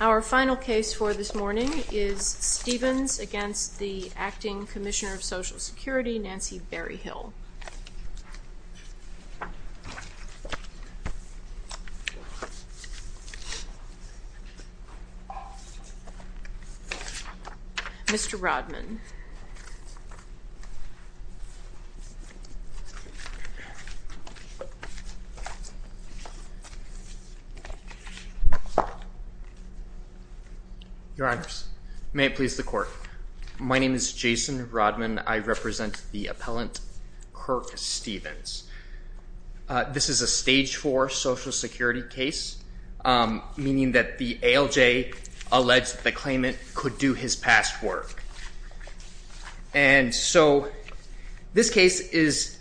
Our final case for this morning is Stephens v. Acting Commissioner of Social Security Nancy Berryhill Mr. Rodman Your honors, may it please the court. My name is Jason Rodman. I represent the appellant Kirk Stephens This is a stage 4 social security case, meaning that the ALJ alleged that the claimant could do his past work And so this case is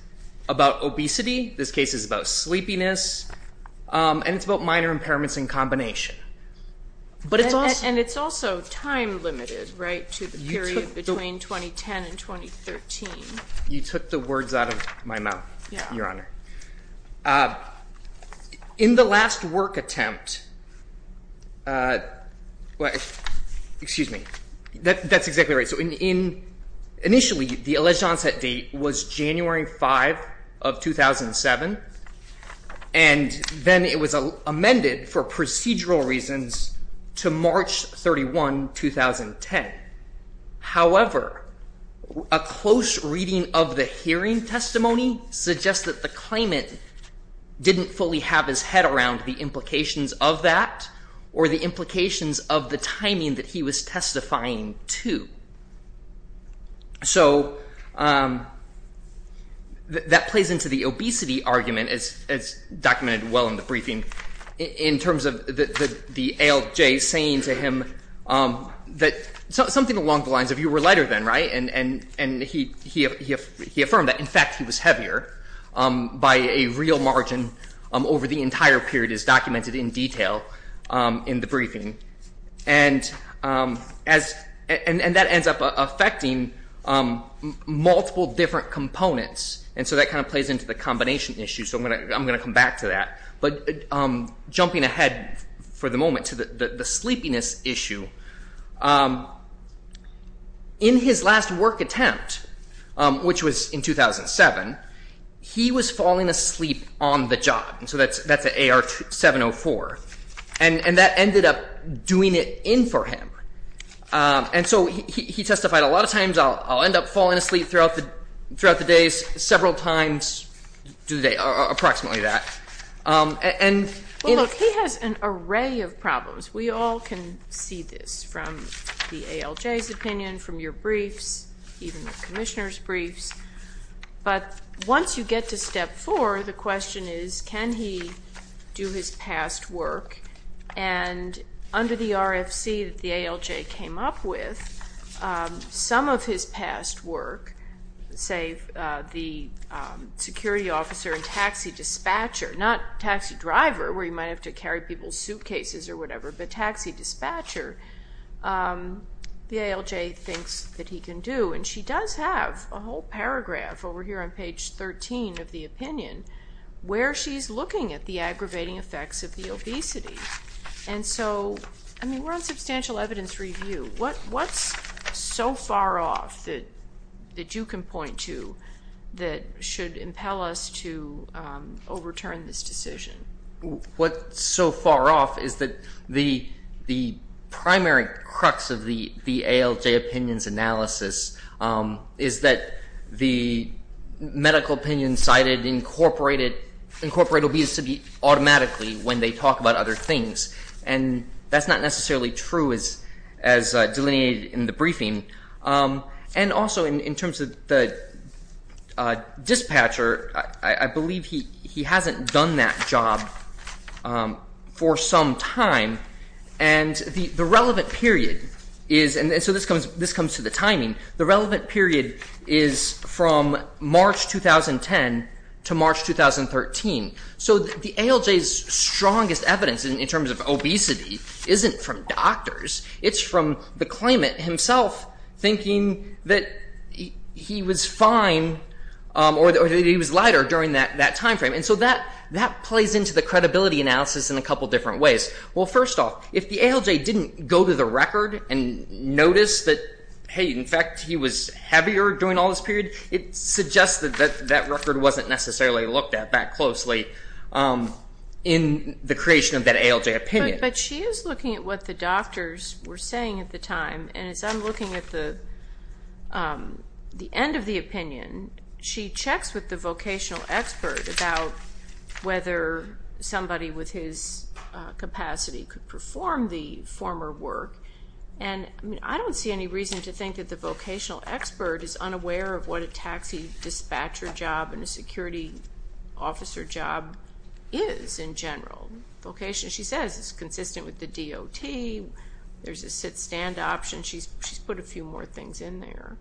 about obesity, this case is about sleepiness, and it's about minor impairments in combination And it's also time limited, right, to the period between 2010 and 2013 You took the words out of my mouth, your honor. In the last work attempt, excuse me, that's exactly right Initially, the alleged onset date was January 5 of 2007, and then it was amended for procedural reasons to March 31, 2010 However, a close reading of the hearing testimony suggests that the claimant didn't fully have his head around the implications of that Or the implications of the timing that he was testifying to So that plays into the obesity argument, as documented well in the briefing, in terms of the ALJ saying to him That something along the lines of you were lighter then, right, and he affirmed that in fact he was heavier By a real margin over the entire period, as documented in detail in the briefing And that ends up affecting multiple different components, and so that kind of plays into the combination issue So I'm going to come back to that, but jumping ahead for the moment to the sleepiness issue In his last work attempt, which was in 2007, he was falling asleep on the job, and so that's AR 704 And that ended up doing it in for him, and so he testified a lot of times, I'll end up falling asleep throughout the days Several times through the day, approximately that Well look, he has an array of problems, we all can see this from the ALJ's opinion, from your briefs, even the Commissioner's briefs But once you get to step 4, the question is can he do his past work And under the RFC that the ALJ came up with, some of his past work Say the security officer and taxi dispatcher, not taxi driver, where you might have to carry people's suitcases or whatever But taxi dispatcher, the ALJ thinks that he can do, and she does have a whole paragraph over here on page 13 of the opinion Where she's looking at the aggravating effects of the obesity And so, we're on substantial evidence review, what's so far off that you can point to that should impel us to overturn this decision? What's so far off is that the primary crux of the ALJ opinion's analysis Is that the medical opinion cited incorporated obesity automatically when they talk about other things And that's not necessarily true as delineated in the briefing And also in terms of the dispatcher, I believe he hasn't done that job for some time And the relevant period is, and so this comes to the timing, the relevant period is from March 2010 to March 2013 So the ALJ's strongest evidence in terms of obesity isn't from doctors It's from the claimant himself thinking that he was fine or that he was lighter during that time frame And so that plays into the credibility analysis in a couple different ways First off, if the ALJ didn't go to the record and notice that, hey, in fact he was heavier during all this period It suggests that that record wasn't necessarily looked at that closely in the creation of that ALJ opinion But she is looking at what the doctors were saying at the time And as I'm looking at the end of the opinion, she checks with the vocational expert About whether somebody with his capacity could perform the former work And I don't see any reason to think that the vocational expert is unaware of what a taxi dispatcher job And a security officer job is in general She says it's consistent with the DOT, there's a sit-stand option, she's put a few more things in there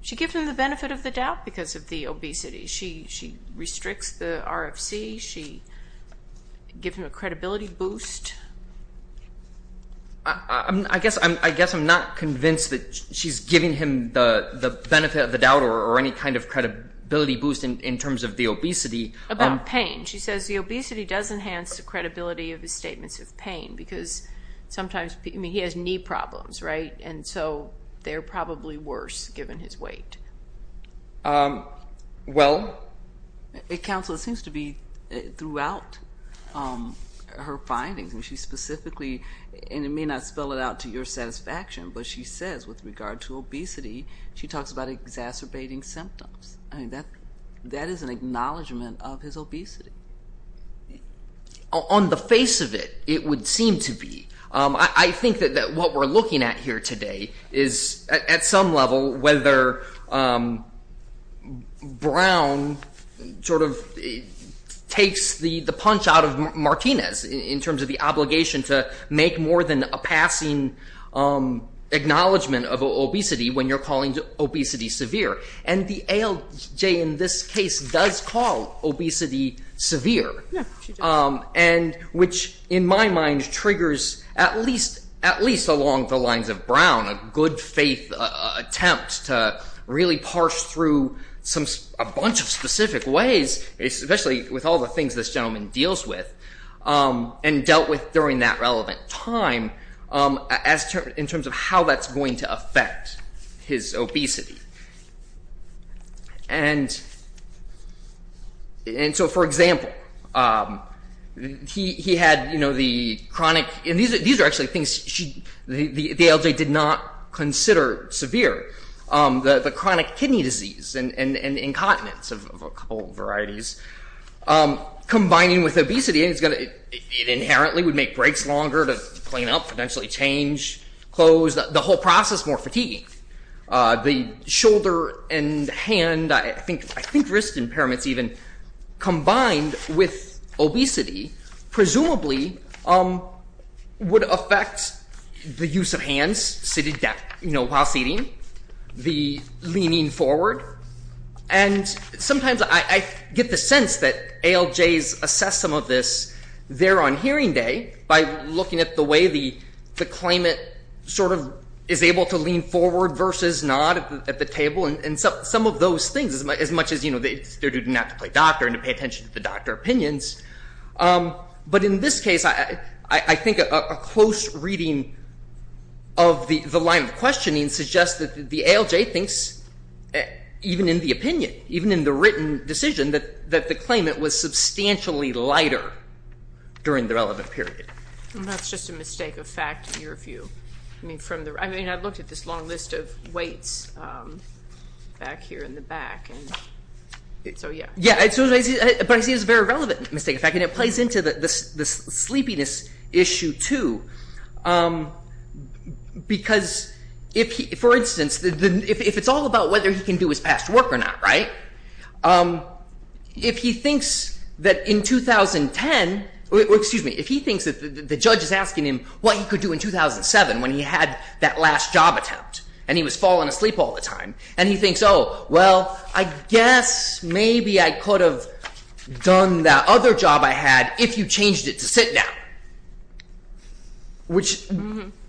She gives him the benefit of the doubt because of the obesity She restricts the RFC, she gives him a credibility boost I guess I'm not convinced that she's giving him the benefit of the doubt or any kind of credibility boost in terms of the obesity About pain, she says the obesity does enhance the credibility of his statements of pain Because sometimes, I mean, he has knee problems, right? And so they're probably worse given his weight Well? Counsel, it seems to be throughout her findings And she specifically, and it may not spell it out to your satisfaction But she says with regard to obesity, she talks about exacerbating symptoms That is an acknowledgment of his obesity On the face of it, it would seem to be I think that what we're looking at here today is at some level Whether Brown sort of takes the punch out of Martinez In terms of the obligation to make more than a passing acknowledgement of obesity When you're calling obesity severe And the ALJ in this case does call obesity severe And which in my mind triggers at least along the lines of Brown A good faith attempt to really parse through a bunch of specific ways Especially with all the things this gentleman deals with And dealt with during that relevant time In terms of how that's going to affect his obesity And so for example He had, you know, the chronic And these are actually things the ALJ did not consider severe The chronic kidney disease and incontinence of a couple varieties Combining with obesity It inherently would make breaks longer to clean up, potentially change clothes The whole process more fatiguing The shoulder and hand, I think wrist impairments even Combined with obesity Presumably would affect the use of hands You know, while sitting The leaning forward And sometimes I get the sense that ALJs assess some of this There on hearing day By looking at the way the claimant sort of is able to lean forward Versus not at the table And some of those things As much as, you know, it's their duty not to play doctor And to pay attention to the doctor opinions But in this case I think a close reading of the line of questioning Suggests that the ALJ thinks Even in the opinion Even in the written decision That the claimant was substantially lighter During the relevant period I mean, I looked at this long list of weights Back here in the back So yeah But I see it as a very relevant mistake And it plays into the sleepiness issue too Because, for instance If it's all about whether he can do his past work or not, right? If he thinks that in 2010 Excuse me, if he thinks that the judge is asking him What he could do in 2007 when he had that last job attempt And he was falling asleep all the time And he thinks, oh, well I guess maybe I could have done that other job I had If you changed it to sit down Which,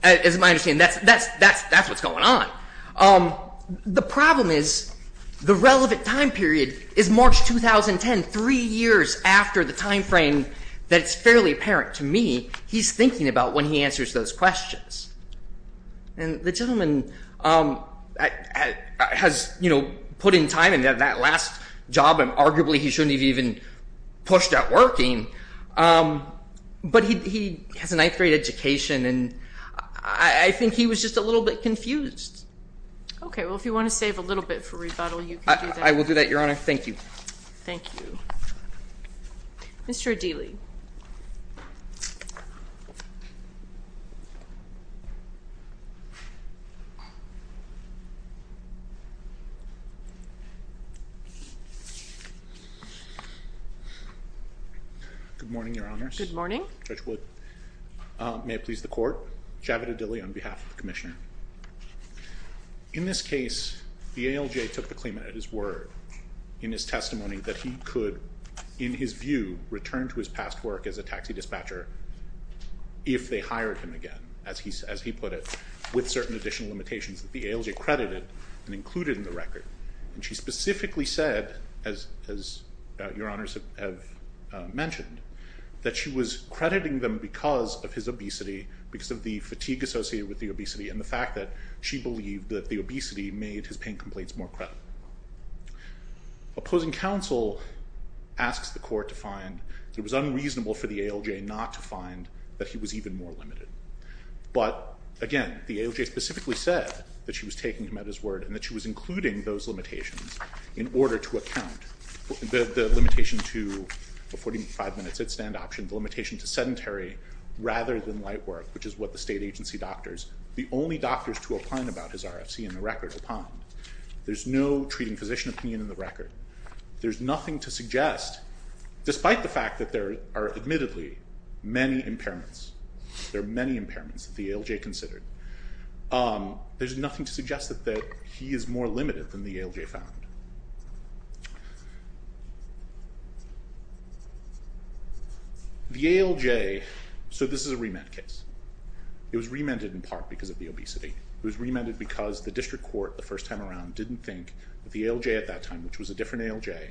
as my understanding That's what's going on The problem is The relevant time period is March 2010 Three years after the time frame That it's fairly apparent to me He's thinking about when he answers those questions And the gentleman Has, you know, put in time And that last job Arguably he shouldn't have even pushed at working But he has a ninth grade education And I think he was just a little bit confused Okay, well, if you want to save a little bit for rebuttal I will do that, Your Honor, thank you Thank you Mr. O'Dealy Good morning, Your Honors Good morning Judge Wood May it please the court Javed O'Dealy on behalf of the Commissioner In this case The ALJ took the claimant at his word In his testimony That he could, in his view If they hired him again As he said And I think that's a good point As he put it With certain additional limitations That the ALJ credited and included in the record And she specifically said As Your Honors have mentioned That she was crediting them Because of his obesity Because of the fatigue associated with the obesity And the fact that she believed That the obesity made his pain complaints more credible Opposing counsel Asks the court to find It was unreasonable for the ALJ not to find That he was even more limited Again, the ALJ specifically said That she was taking him at his word And that she was including those limitations In order to account The limitation to 45 minutes at stand option The limitation to sedentary Rather than light work Which is what the state agency doctors The only doctors to opine about his RFC In the record opined There's no treating physician opinion in the record There's nothing to suggest Despite the fact that there are admittedly Many impairments Considered There's nothing to suggest That he is more limited than the ALJ found The ALJ So this is a remand case It was remanded in part because of the obesity It was remanded because the district court The first time around didn't think That the ALJ at that time Which was a different ALJ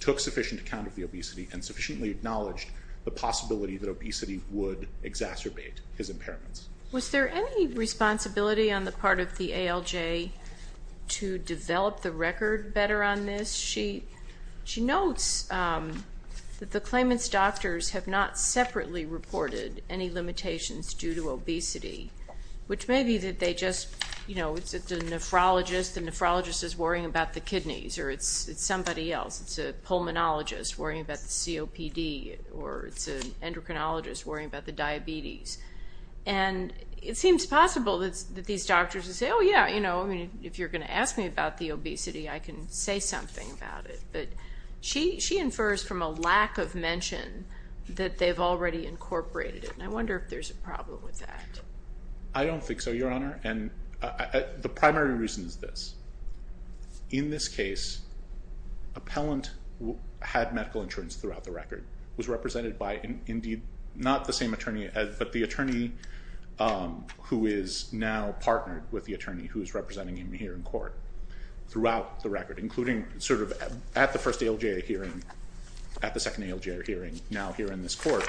Took sufficient account of the obesity And sufficiently acknowledged The possibility that obesity Would exacerbate his impairments Was there any responsibility On the part of the ALJ To develop the record Better on this She notes That the claimant's doctors Have not separately reported Any limitations due to obesity Which may be that they just You know, it's the nephrologist The nephrologist is worrying about the kidneys Or it's somebody else It's a pulmonologist Or it's an endocrinologist Worrying about the diabetes And it seems possible That these doctors would say Oh yeah, you know If you're going to ask me about the obesity I can say something about it But she infers from a lack of mention That they've already incorporated it And I wonder if there's a problem with that I don't think so, your honor And the primary reason is this In this case Appellant Had medical insurance Presented by indeed Not the same attorney But the attorney Who is now partnered with the attorney Who is representing him here in court Throughout the record Including sort of at the first ALJ hearing At the second ALJ hearing Now here in this court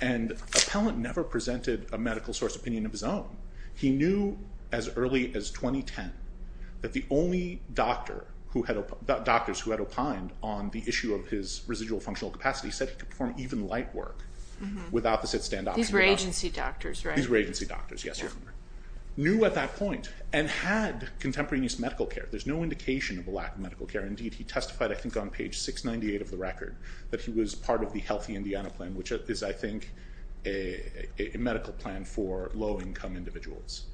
And appellant never presented A medical source opinion of his own He knew as early as 2010 That the only doctor Doctors who had opined On the issue of his Obesity and light work Without the sit stand option These were agency doctors, right? These were agency doctors, yes Knew at that point And had contemporaneous medical care There's no indication of a lack of medical care Indeed he testified I think on page 698 Of the record That he was part of the healthy Indiana plan Which is I think A medical plan for low income individuals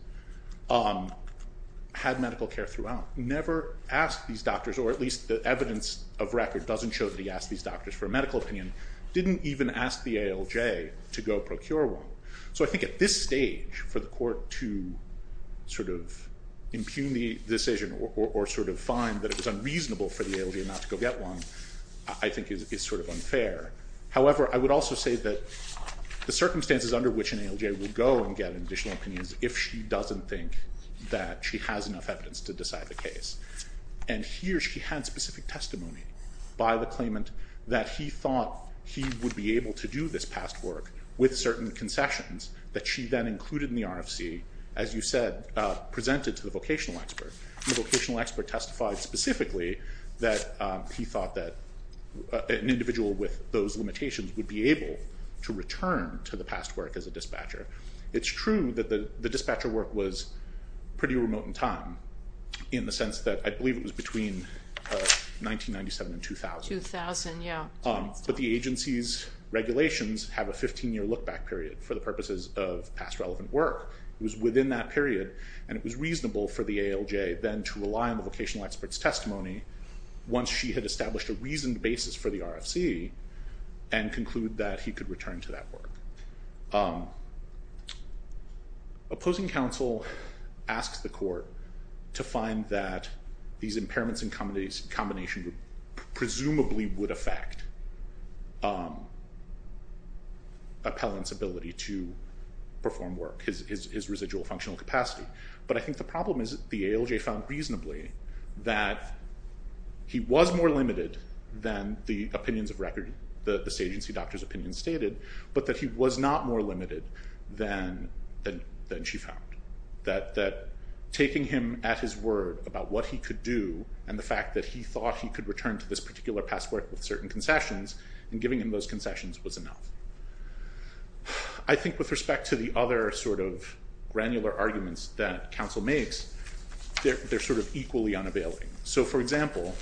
Had medical care throughout Never asked these doctors Or at least the evidence of record To go and ask the ALJ To go procure one So I think at this stage For the court to Sort of impugn the decision Or sort of find that it was unreasonable For the ALJ not to go get one I think is sort of unfair However I would also say that The circumstances under which an ALJ Would go and get additional opinions If she doesn't think That she has enough evidence to decide the case And here she had specific testimony By the claimant That she was able to do this past work With certain concessions That she then included in the RFC As you said Presented to the vocational expert And the vocational expert testified specifically That he thought that An individual with those limitations Would be able to return To the past work as a dispatcher It's true that the dispatcher work Was pretty remote in time In the sense that I believe it was between 1997 and 2000 2000, yeah And the violations Have a 15 year look back period For the purposes of past relevant work It was within that period And it was reasonable for the ALJ Then to rely on the vocational expert's testimony Once she had established a reasoned basis For the RFC And conclude that he could return to that work Opposing counsel Asks the court To find that These impairments and combinations Presumably would affect Appellant's ability To perform work His residual functional capacity But I think the problem is The ALJ found reasonably That he was more limited Than the opinions of record The agency doctor's opinion stated But that he was not more limited Than she found That taking him at his word About what he could do And the fact that he thought He could return to this particular past work With certain concessions I think with respect to the other Sort of granular arguments That counsel makes They're sort of equally unavailing So for example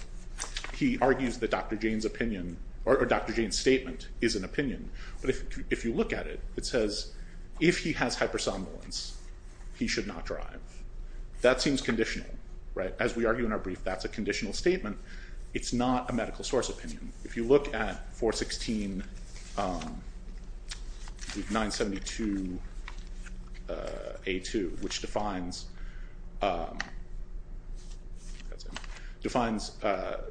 He argues that Dr. Jane's opinion Or Dr. Jane's statement Is an opinion But if you look at it It says if he has hypersomnolence He should not drive That seems conditional As we argue in our brief That's a conditional statement It's not a medical source opinion If you look at 416 972 A2 Which defines That's it Defines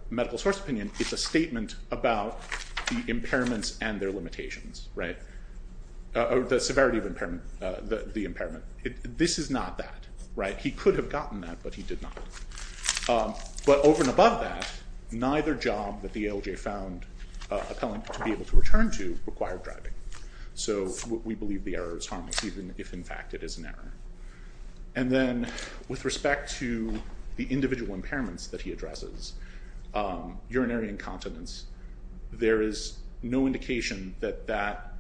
medical source opinion It's a statement about The impairments and their limitations Right The severity of impairment The impairment This is not that He could have gotten that But he did not But over and above that Neither job that the ALJ found Appellant to be able to return to Required driving So we believe the error is harmless Even if in fact it is an error And then with respect to The individual impairments That he addresses Urinary incontinence There is no indication That that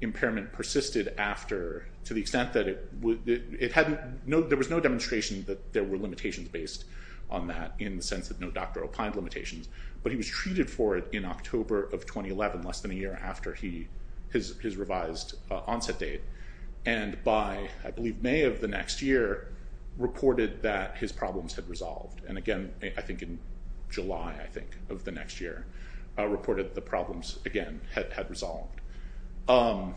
impairment persisted after To the extent that There was no demonstration That there were limitations Based on that in the sense That no doctor opined limitations But he was treated for it In October of 2011 Less than a year after His revised onset date And by I believe May of the next year Reported that his problems Had resolved And again I think in July Of the next year Reported the problems again Had resolved And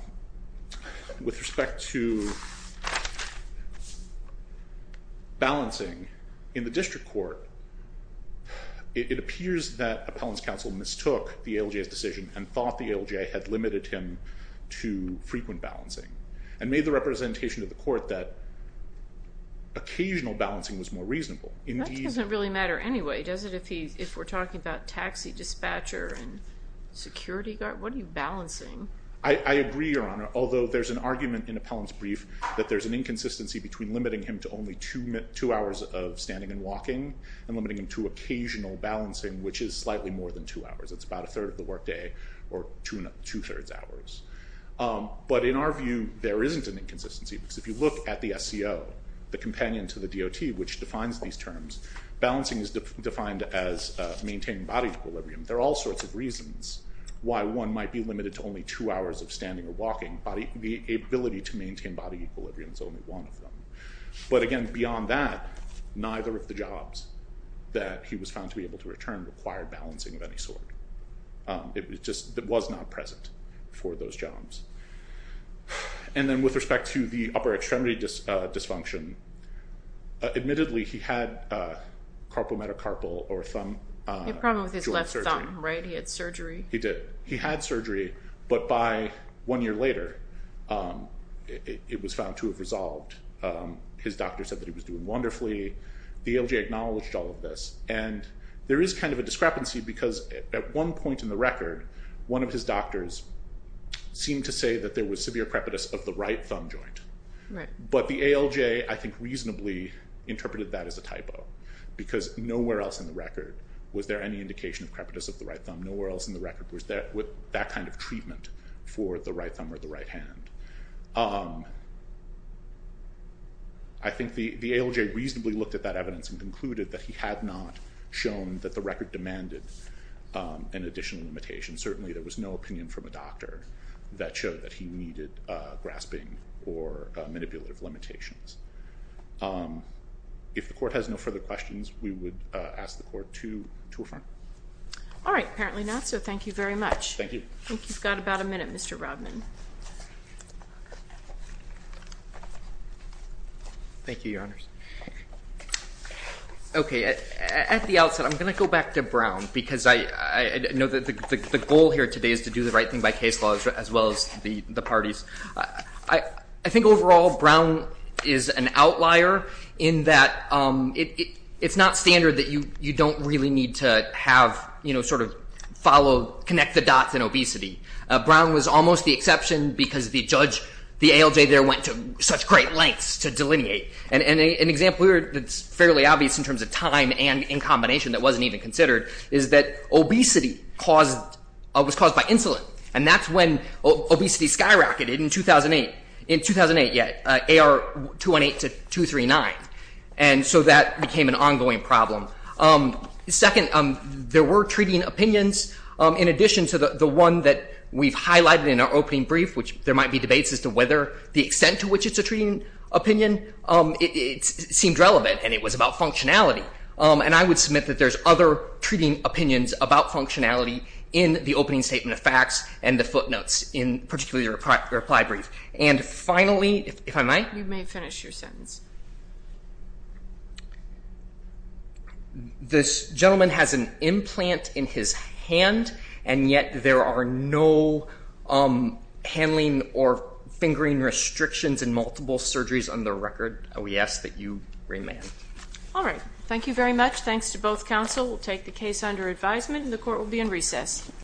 in terms of Balancing In the district court It appears that Appellant's counsel mistook The ALJ's decision And thought the ALJ Had limited him to Frequent balancing And made the representation To the court that Occasional balancing was more reasonable That doesn't really matter anyway Does it if we're talking about Taxi dispatcher and security guard Two hours of standing and walking And limiting him to Occasional balancing Which is slightly more than two hours It's about a third of the work day Or two thirds hours But in our view There isn't an inconsistency Because if you look at the SCO The companion to the DOT Which defines these terms Balancing is defined as Maintaining body equilibrium There are all sorts of reasons Why one might be limited But beyond that Neither of the jobs That he was found to be able to return Required balancing of any sort It just was not present For those jobs And then with respect to The upper extremity dysfunction Admittedly he had Carpal metacarpal Or thumb He had surgery He had surgery But by one year later It was found to have resolved He was doing wonderfully The ALJ acknowledged all of this And there is kind of a discrepancy Because at one point in the record One of his doctors Seemed to say that there was Severe crepitus of the right thumb joint But the ALJ I think reasonably Interpreted that as a typo Because nowhere else in the record Was there any indication of Crepitus of the right thumb Nowhere else in the record Was that kind of treatment For the right thumb or the right hand So the ALJ reasonably looked At that evidence and concluded That he had not shown That the record demanded An additional limitation Certainly there was no opinion From a doctor that showed That he needed grasping Or manipulative limitations If the court has no further questions We would ask the court to affirm All right apparently not So thank you very much Thank you I think you've got about a minute Okay at the outset I'm going to go back to Brown Because I know that the goal here today Is to do the right thing by case law As well as the parties I think overall Brown Is an outlier In that it's not standard That you don't really need To have sort of Connect the dots in obesity Brown was almost the exception Because the ALJ there Went to such great lengths To delineate And an example here That's fairly obvious In terms of time and in combination That wasn't even considered Is that obesity was caused by insulin And that's when obesity skyrocketed In 2008 AR 218 to 239 And so that became an ongoing problem Second there were Treating opinions In addition to the one That we've highlighted In our opening brief And that opinion Seemed relevant And it was about functionality And I would submit That there's other Treating opinions About functionality In the opening statement of facts And the footnotes In particularly the reply brief And finally If I might You may finish your sentence This gentleman has an implant In his hand And on the record We ask that you remand All right, thank you very much Thanks to both counsel We'll take the case under advisement And the court will be in recess